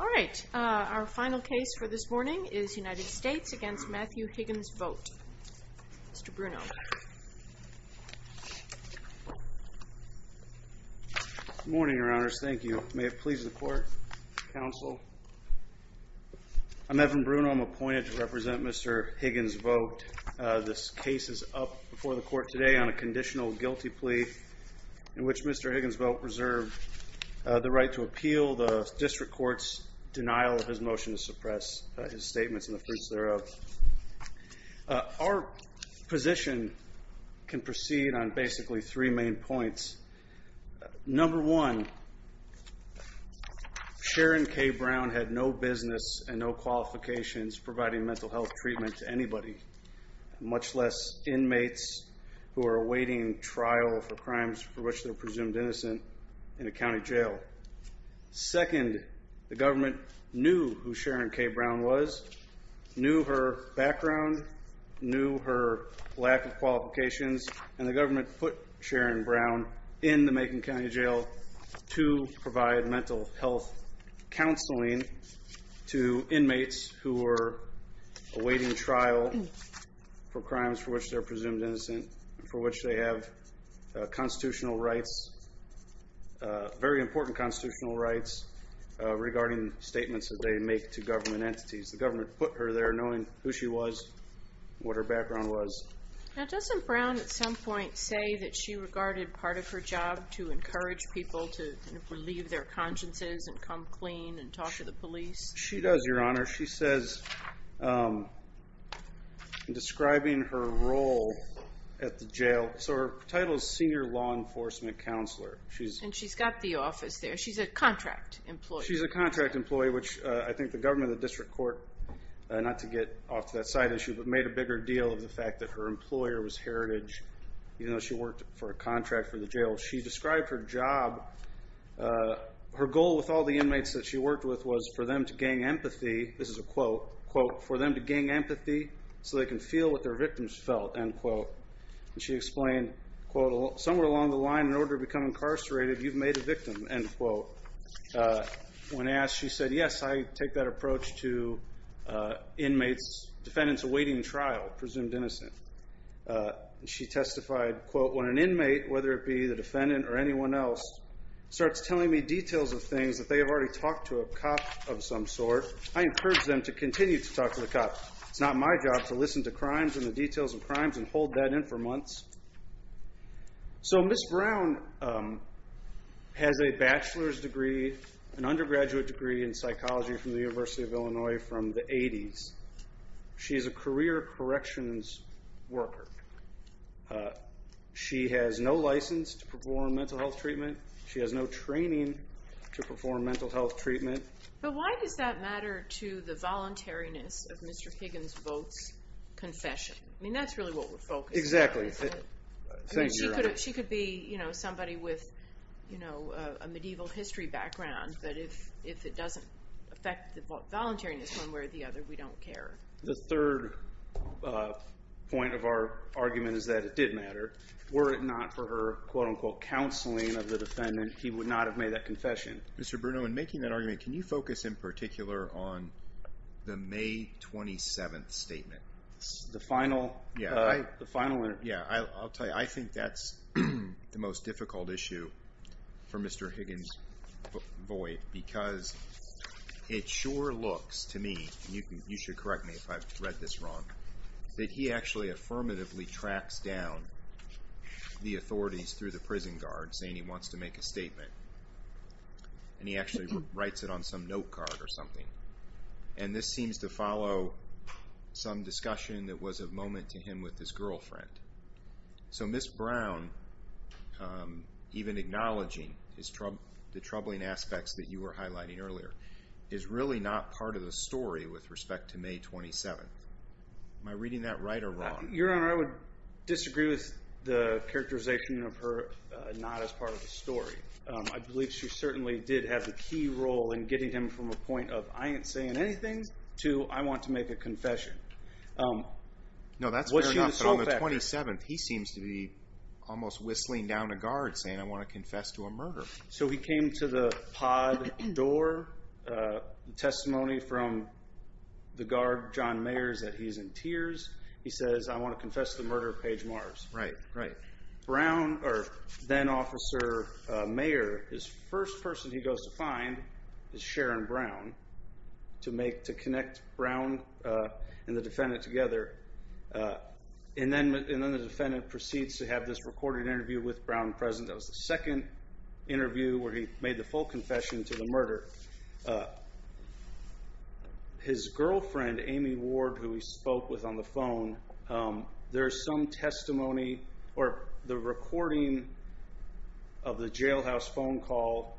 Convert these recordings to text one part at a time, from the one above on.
All right, our final case for this morning is United States v. Matthew Higgins-Vogt. Mr. Bruno. Good morning, Your Honors. Thank you. May it please the Court, Counsel. I'm Evan Bruno. I'm appointed to represent Mr. Higgins-Vogt. This case is up before the Court today on a conditional guilty plea in which Mr. Higgins-Vogt reserved the right to appeal the District Court's denial of his motion to suppress his statements and the proofs thereof. Our position can proceed on basically three main points. Number one, Sharon K. Brown had no business and no qualifications providing mental health treatment to anybody, much less inmates who are awaiting trial for crimes for which they're presumed innocent in a county jail. Second, the government knew who Sharon K. Brown was, knew her background, knew her lack of qualifications, and the government put Sharon Brown in the Macon County Jail to provide mental health counseling to inmates who were awaiting trial for crimes for which they're presumed innocent and for which they have constitutional rights. Very important constitutional rights regarding statements that they make to government entities. The government put her there knowing who she was, what her background was. Now, doesn't Brown at some point say that she regarded part of her job to encourage people to relieve their consciences and come clean and talk to the police? She does, Your Honor. She says, describing her role at the jail, so her title is Senior Law Enforcement Counselor. And she's got the office there. She's a contract employee. She's a contract employee, which I think the government of the District Court, not to get off to that side issue, but made a bigger deal of the fact that her employer was Heritage, even though she worked for a contract for the jail. She described her job. Her goal with all the inmates that she worked with was for them to gain empathy, this is a quote, quote, for them to gain empathy so they can feel what their victims felt, end quote. And she explained, quote, somewhere along the line, in order to become incarcerated, you've made a victim, end quote. When asked, she said, yes, I take that approach to inmates, defendants awaiting trial, presumed innocent. She testified, quote, when an inmate, whether it be the defendant or anyone else, starts telling me details of things that they have already talked to a cop of some sort, I encourage them to continue to talk to the cop. It's not my job to listen to crimes and the details of crimes and hold that in for months. So Ms. Brown has a bachelor's degree, an undergraduate degree in psychology from the University of Illinois from the 80s. She is a career corrections worker. She has no license to perform mental health treatment. She has no training to perform mental health treatment. But why does that matter to the voluntariness of Mr. Higgins' vote's confession? I mean, that's really what we're focused on. Exactly. She could be, you know, somebody with, you know, a medieval history background, but if it doesn't affect the voluntariness one way or the other, we don't care. The third point of our argument is that it did matter. Were it not for her, quote, unquote, counseling of the defendant, he would not have made that confession. Mr. Bruno, in making that argument, can you focus in particular on the May 27th statement? The final one. Yeah, I'll tell you. I think that's the most difficult issue for Mr. Higgins' void because it sure looks to me, and you should correct me if I've read this wrong, that he actually affirmatively tracks down the authorities through the prison guard, saying he wants to make a statement. And he actually writes it on some note card or something. And this seems to follow some discussion that was of moment to him with his girlfriend. So Ms. Brown, even acknowledging the troubling aspects that you were highlighting earlier, is really not part of the story with respect to May 27th. Am I reading that right or wrong? Your Honor, I would disagree with the characterization of her not as part of the story. I believe she certainly did have a key role in getting him from a point of I ain't saying anything to I want to make a confession. No, that's fair enough. But on the 27th, he seems to be almost whistling down a guard saying I want to confess to a murder. So he came to the pod door, testimony from the guard, John Mayers, that he's in tears. He says, I want to confess to the murder of Paige Mars. Right, right. Then Officer Mayer, his first person he goes to find is Sharon Brown to connect Brown and the defendant together. And then the defendant proceeds to have this recorded interview with Brown present. That was the second interview where he made the full confession to the murder. His girlfriend, Amy Ward, who he spoke with on the phone, there is some testimony or the recording of the jailhouse phone call.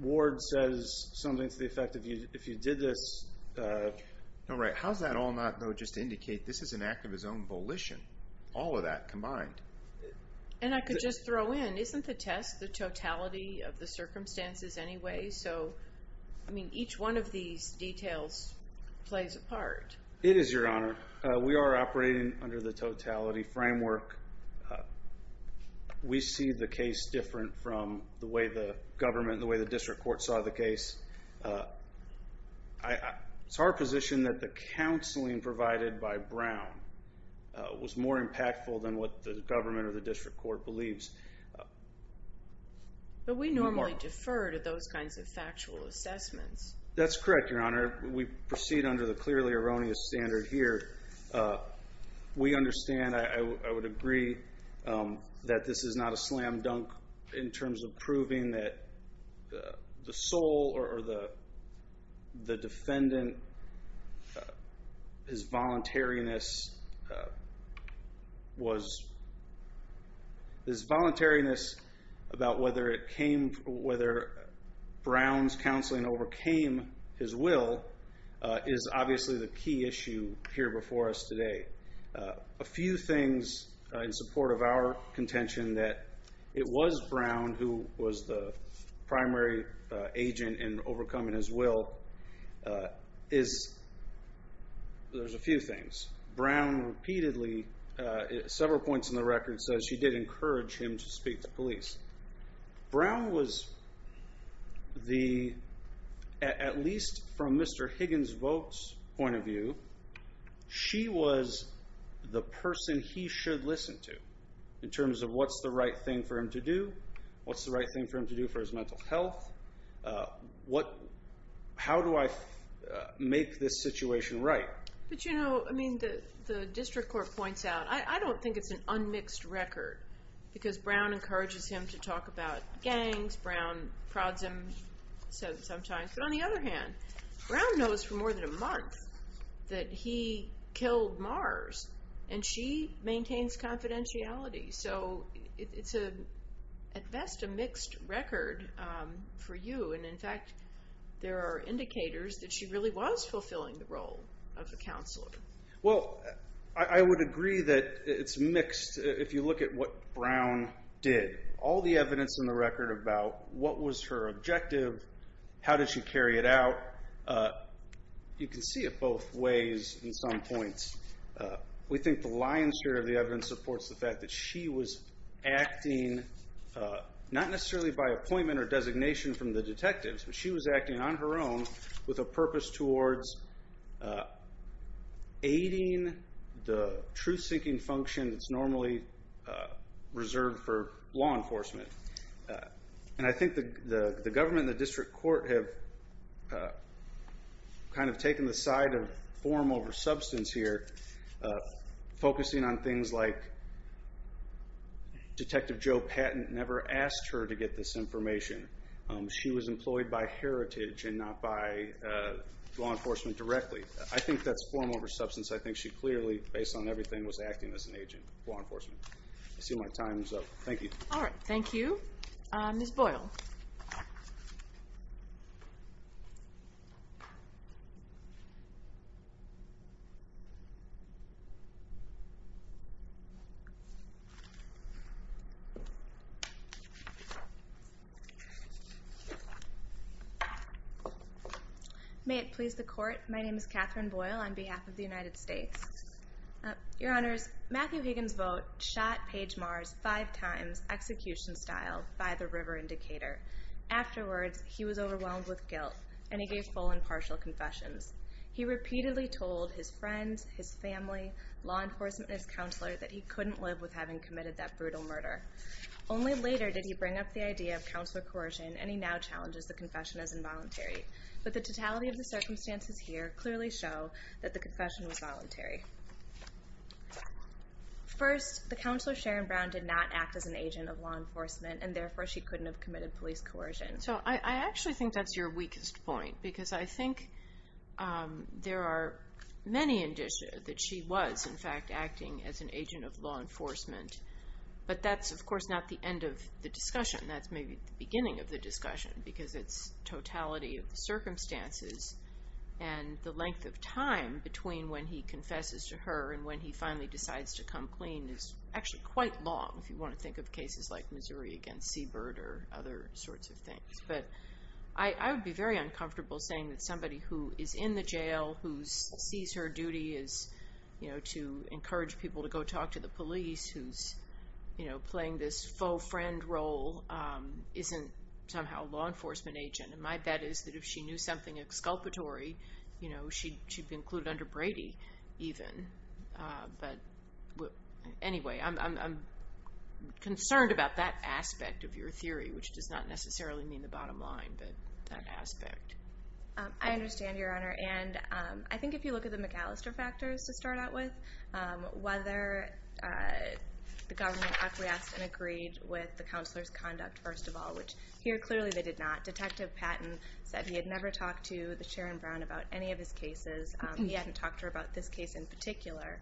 Ward says something to the effect if you did this. All right. How does that all not just indicate this is an act of his own volition? All of that combined. And I could just throw in, isn't the test the totality of the circumstances anyway? So, I mean, each one of these details plays a part. It is, Your Honor. We are operating under the totality framework. We see the case different from the way the government, the way the district court saw the case. It's our position that the counseling provided by Brown was more impactful than what the government or the district court believes. But we normally defer to those kinds of factual assessments. That's correct, Your Honor. We proceed under the clearly erroneous standard here. We understand, I would agree, that this is not a slam dunk in terms of proving that the sole or the defendant, his voluntariness about whether Brown's counseling overcame his will is obviously the key issue here before us today. A few things in support of our contention that it was Brown who was the primary agent in overcoming his will. There's a few things. Brown repeatedly, several points in the record, says she did encourage him to speak to police. Brown was the, at least from Mr. Higgins' vote's point of view, she was the person he should listen to in terms of what's the right thing for him to do, what's the right thing for him to do for his mental health, how do I make this situation right? But you know, I mean, the district court points out, I don't think it's an unmixed record because Brown encourages him to talk about gangs, Brown prods him sometimes. But on the other hand, Brown knows for more than a month that he killed Mars and she maintains confidentiality. So it's at best a mixed record for you. And in fact, there are indicators that she really was fulfilling the role of the counselor. Well, I would agree that it's mixed if you look at what Brown did. All the evidence in the record about what was her objective, how did she carry it out, you can see it both ways in some points. We think the lion's share of the evidence supports the fact that she was acting, not necessarily by appointment or designation from the detectives, but she was acting on her own with a purpose towards aiding the truth-seeking function that's normally reserved for law enforcement. And I think the government and the district court have kind of taken the side of form over substance here, focusing on things like Detective Joe Patton never asked her to get this information. She was employed by heritage and not by law enforcement directly. I think that's form over substance. I think she clearly, based on everything, was acting as an agent for law enforcement. I see my time is up. Thank you. All right. Thank you. Ms. Boyle. May it please the Court, my name is Catherine Boyle on behalf of the United States. Your Honors, Matthew Higgins' vote shot Paige Mars five times, execution style, by the river indicator. Afterwards, he was overwhelmed with guilt, and he gave full and partial confessions. He repeatedly told his friends, his family, law enforcement, and his counselor that he couldn't live with having committed that brutal murder. Only later did he bring up the idea of counselor coercion, and he now challenges the confession as involuntary. But the totality of the circumstances here clearly show that the confession was voluntary. First, the counselor, Sharon Brown, did not act as an agent of law enforcement, and therefore she couldn't have committed police coercion. So I actually think that's your weakest point, because I think there are many indications that she was, in fact, acting as an agent of law enforcement. But that's, of course, not the end of the discussion. That's maybe the beginning of the discussion, because it's totality of the circumstances and the length of time between when he confesses to her and when he finally decides to come clean is actually quite long, if you want to think of cases like Missouri against Seabird or other sorts of things. But I would be very uncomfortable saying that somebody who is in the jail, who sees her duty is to encourage people to go talk to the police, who's playing this faux friend role, isn't somehow a law enforcement agent. And my bet is that if she knew something exculpatory, she'd be included under Brady even. But anyway, I'm concerned about that aspect of your theory, which does not necessarily mean the bottom line, but that aspect. I understand, Your Honor. And I think if you look at the McAllister factors to start out with, whether the government acquiesced and agreed with the counselor's conduct first of all, which here clearly they did not. Detective Patton said he had never talked to the Sharon Brown about any of his cases. He hadn't talked to her about this case in particular.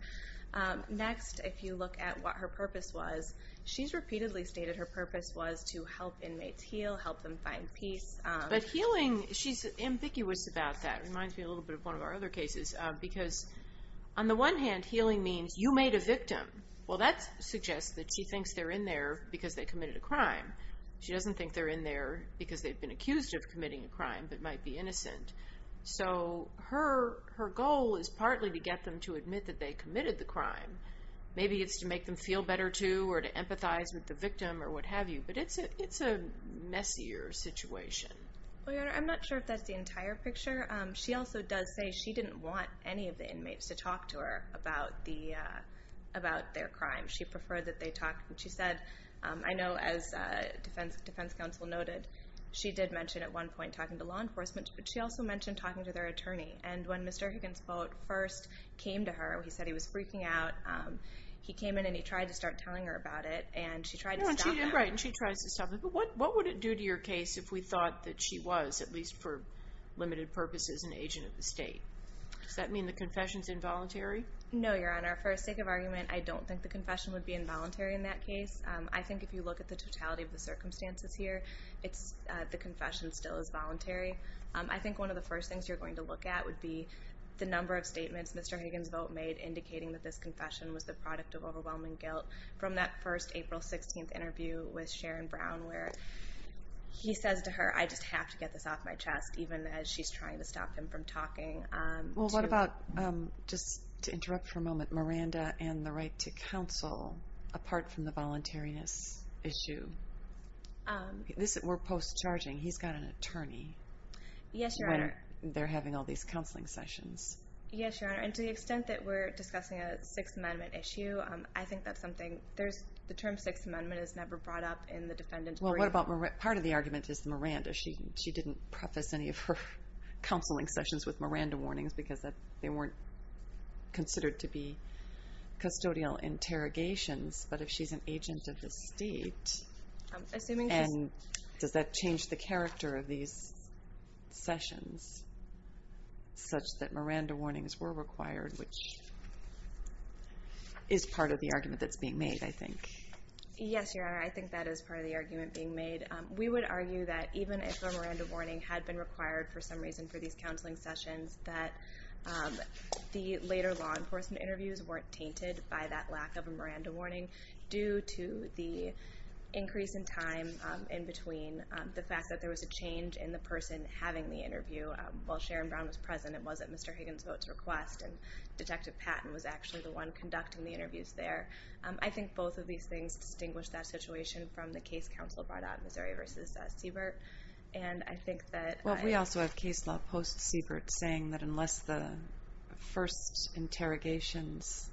Next, if you look at what her purpose was, she's repeatedly stated her purpose was to help inmates heal, help them find peace. But healing, she's ambiguous about that. It reminds me a little bit of one of our other cases, because on the one hand, healing means you made a victim. Well, that suggests that she thinks they're in there because they committed a crime. She doesn't think they're in there because they've been accused of committing a crime but might be innocent. So her goal is partly to get them to admit that they committed the crime. Maybe it's to make them feel better too or to empathize with the victim or what have you. But it's a messier situation. Well, Your Honor, I'm not sure if that's the entire picture. She also does say she didn't want any of the inmates to talk to her about their crime. She preferred that they talked. She said, I know as defense counsel noted, she did mention at one point talking to law enforcement, but she also mentioned talking to their attorney. And when Mr. Higgins first came to her, he said he was freaking out. He came in and he tried to start telling her about it, and she tried to stop him. Right, and she tries to stop him. What would it do to your case if we thought that she was, at least for limited purposes, an agent of the state? Does that mean the confession is involuntary? No, Your Honor. For the sake of argument, I don't think the confession would be involuntary in that case. I think if you look at the totality of the circumstances here, the confession still is voluntary. I think one of the first things you're going to look at would be the number of statements Mr. Higgins made indicating that this confession was the product of overwhelming guilt. From that first April 16th interview with Sharon Brown where he says to her, I just have to get this off my chest, even as she's trying to stop him from talking. Well, what about, just to interrupt for a moment, Miranda and the right to counsel, apart from the voluntariness issue? We're post-charging. He's got an attorney. Yes, Your Honor. They're having all these counseling sessions. Yes, Your Honor, and to the extent that we're discussing a Sixth Amendment issue, I think that's something. The term Sixth Amendment is never brought up in the defendant's brief. Well, what about Miranda? Part of the argument is Miranda. She didn't preface any of her counseling sessions with Miranda warnings because they weren't considered to be custodial interrogations. But if she's an agent of the state, does that change the character of these sessions such that Miranda warnings were required, which is part of the argument that's being made, I think. Yes, Your Honor, I think that is part of the argument being made. We would argue that even if a Miranda warning had been required for some reason for these counseling sessions, that the later law enforcement interviews weren't tainted by that lack of a Miranda warning due to the increase in time in between, the fact that there was a change in the person having the interview. While Sharon Brown was present, it wasn't Mr. Higgins' vote to request, and Detective Patton was actually the one conducting the interviews there. I think both of these things distinguish that situation from the case counsel brought out in Missouri v. Siebert, and I think that Well, we also have case law post-Siebert saying that unless the first interrogations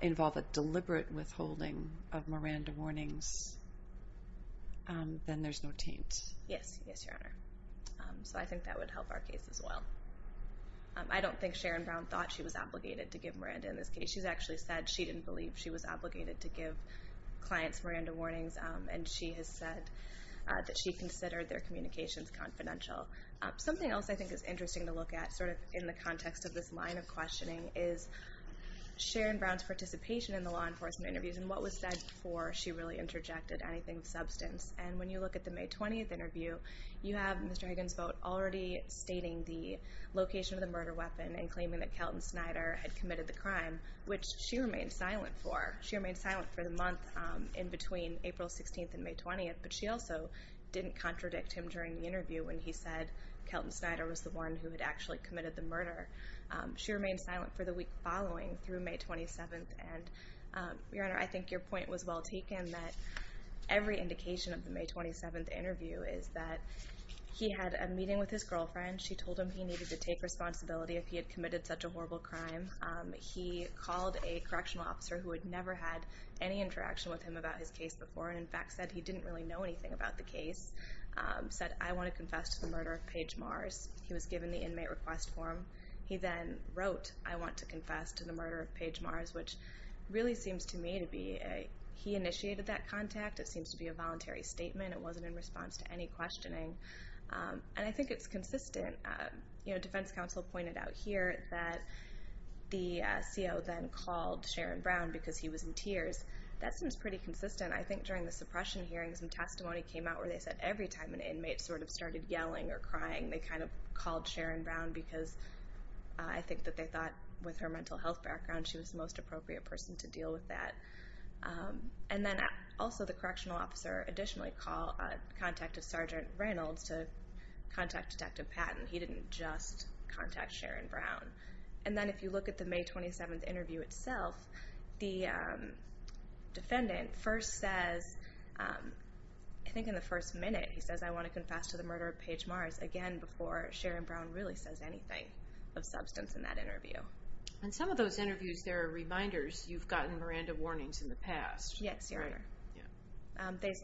involve a deliberate withholding of Miranda warnings, then there's no taint. Yes. Yes, Your Honor. So I think that would help our case as well. I don't think Sharon Brown thought she was obligated to give Miranda in this case. She's actually said she didn't believe she was obligated to give clients Miranda warnings, and she has said that she considered their communications confidential. Something else I think is interesting to look at in the context of this line of questioning is Sharon Brown's participation in the law enforcement interviews and what was said before she really interjected anything of substance. And when you look at the May 20th interview, you have Mr. Higgins' vote already stating the location of the murder weapon and claiming that Kelton Snyder had committed the crime, which she remained silent for. She remained silent for the month in between April 16th and May 20th, but she also didn't contradict him during the interview when he said Kelton Snyder was the one who had actually committed the murder. She remained silent for the week following through May 27th. Your Honor, I think your point was well taken that every indication of the May 27th interview is that he had a meeting with his girlfriend. She told him he needed to take responsibility if he had committed such a horrible crime. He called a correctional officer who had never had any interaction with him about his case before and in fact said he didn't really know anything about the case, said, I want to confess to the murder of Paige Mars. He was given the inmate request form. He then wrote, I want to confess to the murder of Paige Mars, which really seems to me to be he initiated that contact. It seems to be a voluntary statement. It wasn't in response to any questioning, and I think it's consistent. Defense counsel pointed out here that the CO then called Sharon Brown because he was in tears. That seems pretty consistent. I think during the suppression hearings, some testimony came out where they said every time an inmate sort of started yelling or crying, they kind of called Sharon Brown because I think that they thought with her mental health background she was the most appropriate person to deal with that. And then also the correctional officer additionally contacted Sergeant Reynolds to contact Detective Patton. He didn't just contact Sharon Brown. And then if you look at the May 27th interview itself, the defendant first says, I think in the first minute, he says, I want to confess to the murder of Paige Mars, again before Sharon Brown really says anything of substance in that interview. In some of those interviews, there are reminders. You've gotten Miranda warnings in the past. Yes, Your Honor.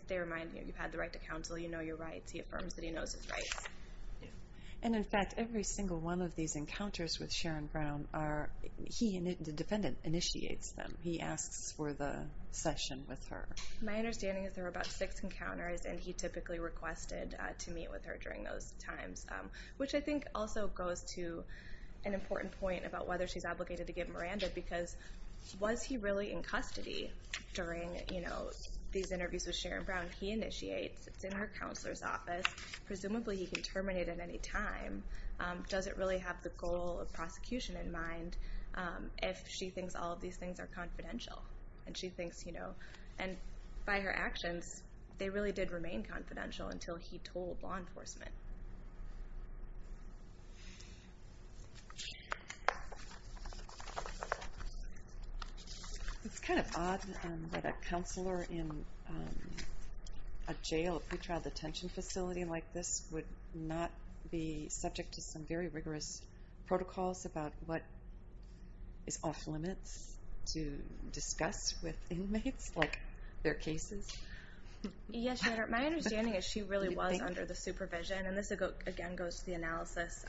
They remind you you've had the right to counsel. You know your rights. He affirms that he knows his rights. And in fact, every single one of these encounters with Sharon Brown, he and the defendant initiates them. He asks for the session with her. My understanding is there were about six encounters, and he typically requested to meet with her during those times, which I think also goes to an important point about whether she's obligated to give Miranda, because was he really in custody during these interviews with Sharon Brown? He initiates. It's in her counselor's office. Presumably he can terminate at any time. Does it really have the goal of prosecution in mind if she thinks all of these things are confidential? And by her actions, they really did remain confidential until he told law enforcement. It's kind of odd that a counselor in a jail, a pretrial detention facility like this, would not be subject to some very rigorous protocols about what is off limits to discuss with inmates, like their cases. Yes, Your Honor. My understanding is she really was under the supervision, and this again goes to the analysis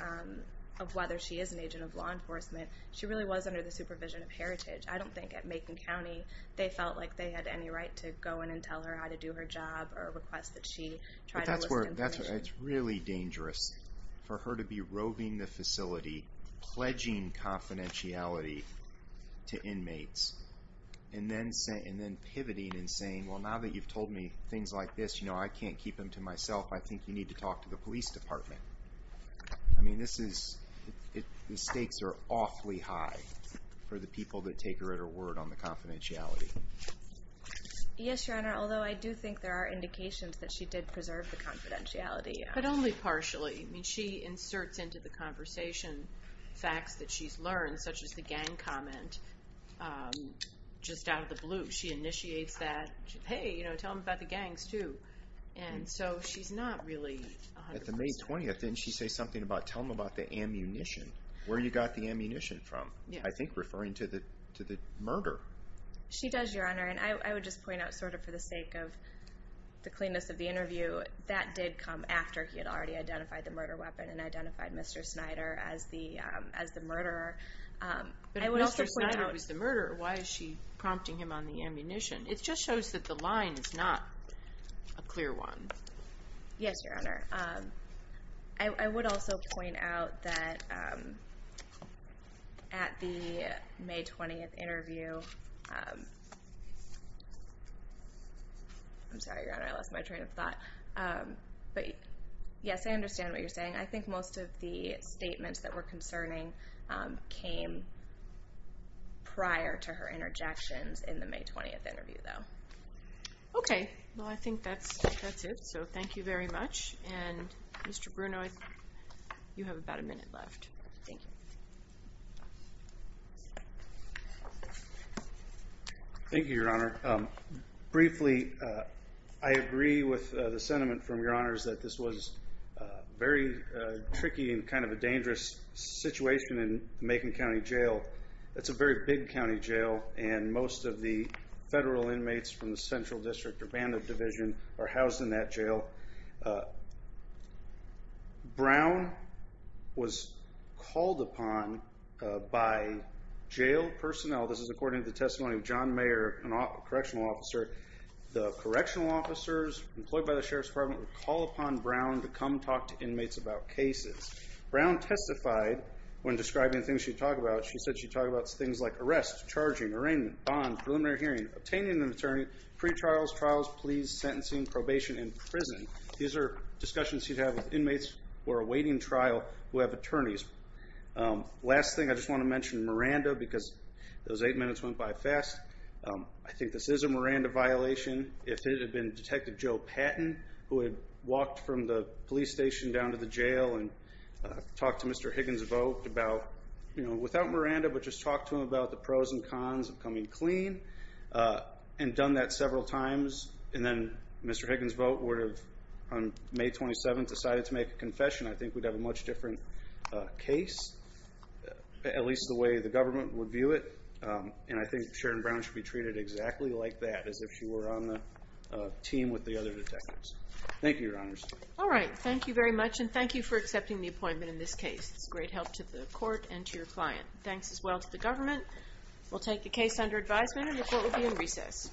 of whether she is an agent of law enforcement. She really was under the supervision of Heritage. I don't think at Macon County they felt like they had any right to go in and tell her how to do her job or request that she try to list information. But that's where it's really dangerous for her to be roving the facility, pledging confidentiality to inmates, and then pivoting and saying, well, now that you've told me things like this, I can't keep them to myself. I think you need to talk to the police department. I mean, the stakes are awfully high for the people that take her at her word on the confidentiality. Yes, Your Honor, although I do think there are indications that she did preserve the confidentiality. But only partially. I mean, she inserts into the conversation facts that she's learned, such as the gang comment, just out of the blue. She initiates that, hey, tell them about the gangs, too. And so she's not really 100% At the May 20th, didn't she say something about, tell them about the ammunition, where you got the ammunition from, I think referring to the murder. She does, Your Honor. And I would just point out sort of for the sake of the cleanness of the interview, that did come after he had already identified the murder weapon and identified Mr. Snyder as the murderer. But if Mr. Snyder was the murderer, why is she prompting him on the ammunition? It just shows that the line is not a clear one. Yes, Your Honor. I would also point out that at the May 20th interview, I'm sorry, Your Honor, I lost my train of thought. But, yes, I understand what you're saying. I think most of the statements that were concerning came prior to her interjections in the May 20th interview, though. Okay. Well, I think that's it. So thank you very much. And, Mr. Bruno, you have about a minute left. Thank you. Thank you, Your Honor. Briefly, I agree with the sentiment from Your Honors that this was very tricky and kind of a dangerous situation in the Macon County Jail. It's a very big county jail, and most of the federal inmates from the central district or bandit division are housed in that jail. Brown was called upon by jail personnel. This is according to the testimony of John Mayer, a correctional officer. The correctional officers employed by the Sheriff's Department would call upon Brown to come talk to inmates about cases. Brown testified when describing things she'd talk about. She said she'd talk about things like arrest, charging, arraignment, bond, preliminary hearing, obtaining an attorney, pretrials, trials, pleas, sentencing, probation, and prison. These are discussions she'd have with inmates who are awaiting trial who have attorneys. Last thing, I just want to mention Miranda because those eight minutes went by fast. I think this is a Miranda violation. If it had been Detective Joe Patton, who had walked from the police station down to the jail and talked to Mr. Higgins about, you know, without Miranda, but just talked to him about the pros and cons of coming clean and done that several times, and then Mr. Higgins' vote would have, on May 27th, decided to make a confession, I think we'd have a much different case, at least the way the government would view it. And I think Sharon Brown should be treated exactly like that, as if she were on the team with the other detectives. Thank you, Your Honors. All right. Thank you very much, and thank you for accepting the appointment in this case. It's great help to the court and to your client. Thanks as well to the government. We'll take the case under advisement, and the court will be in recess.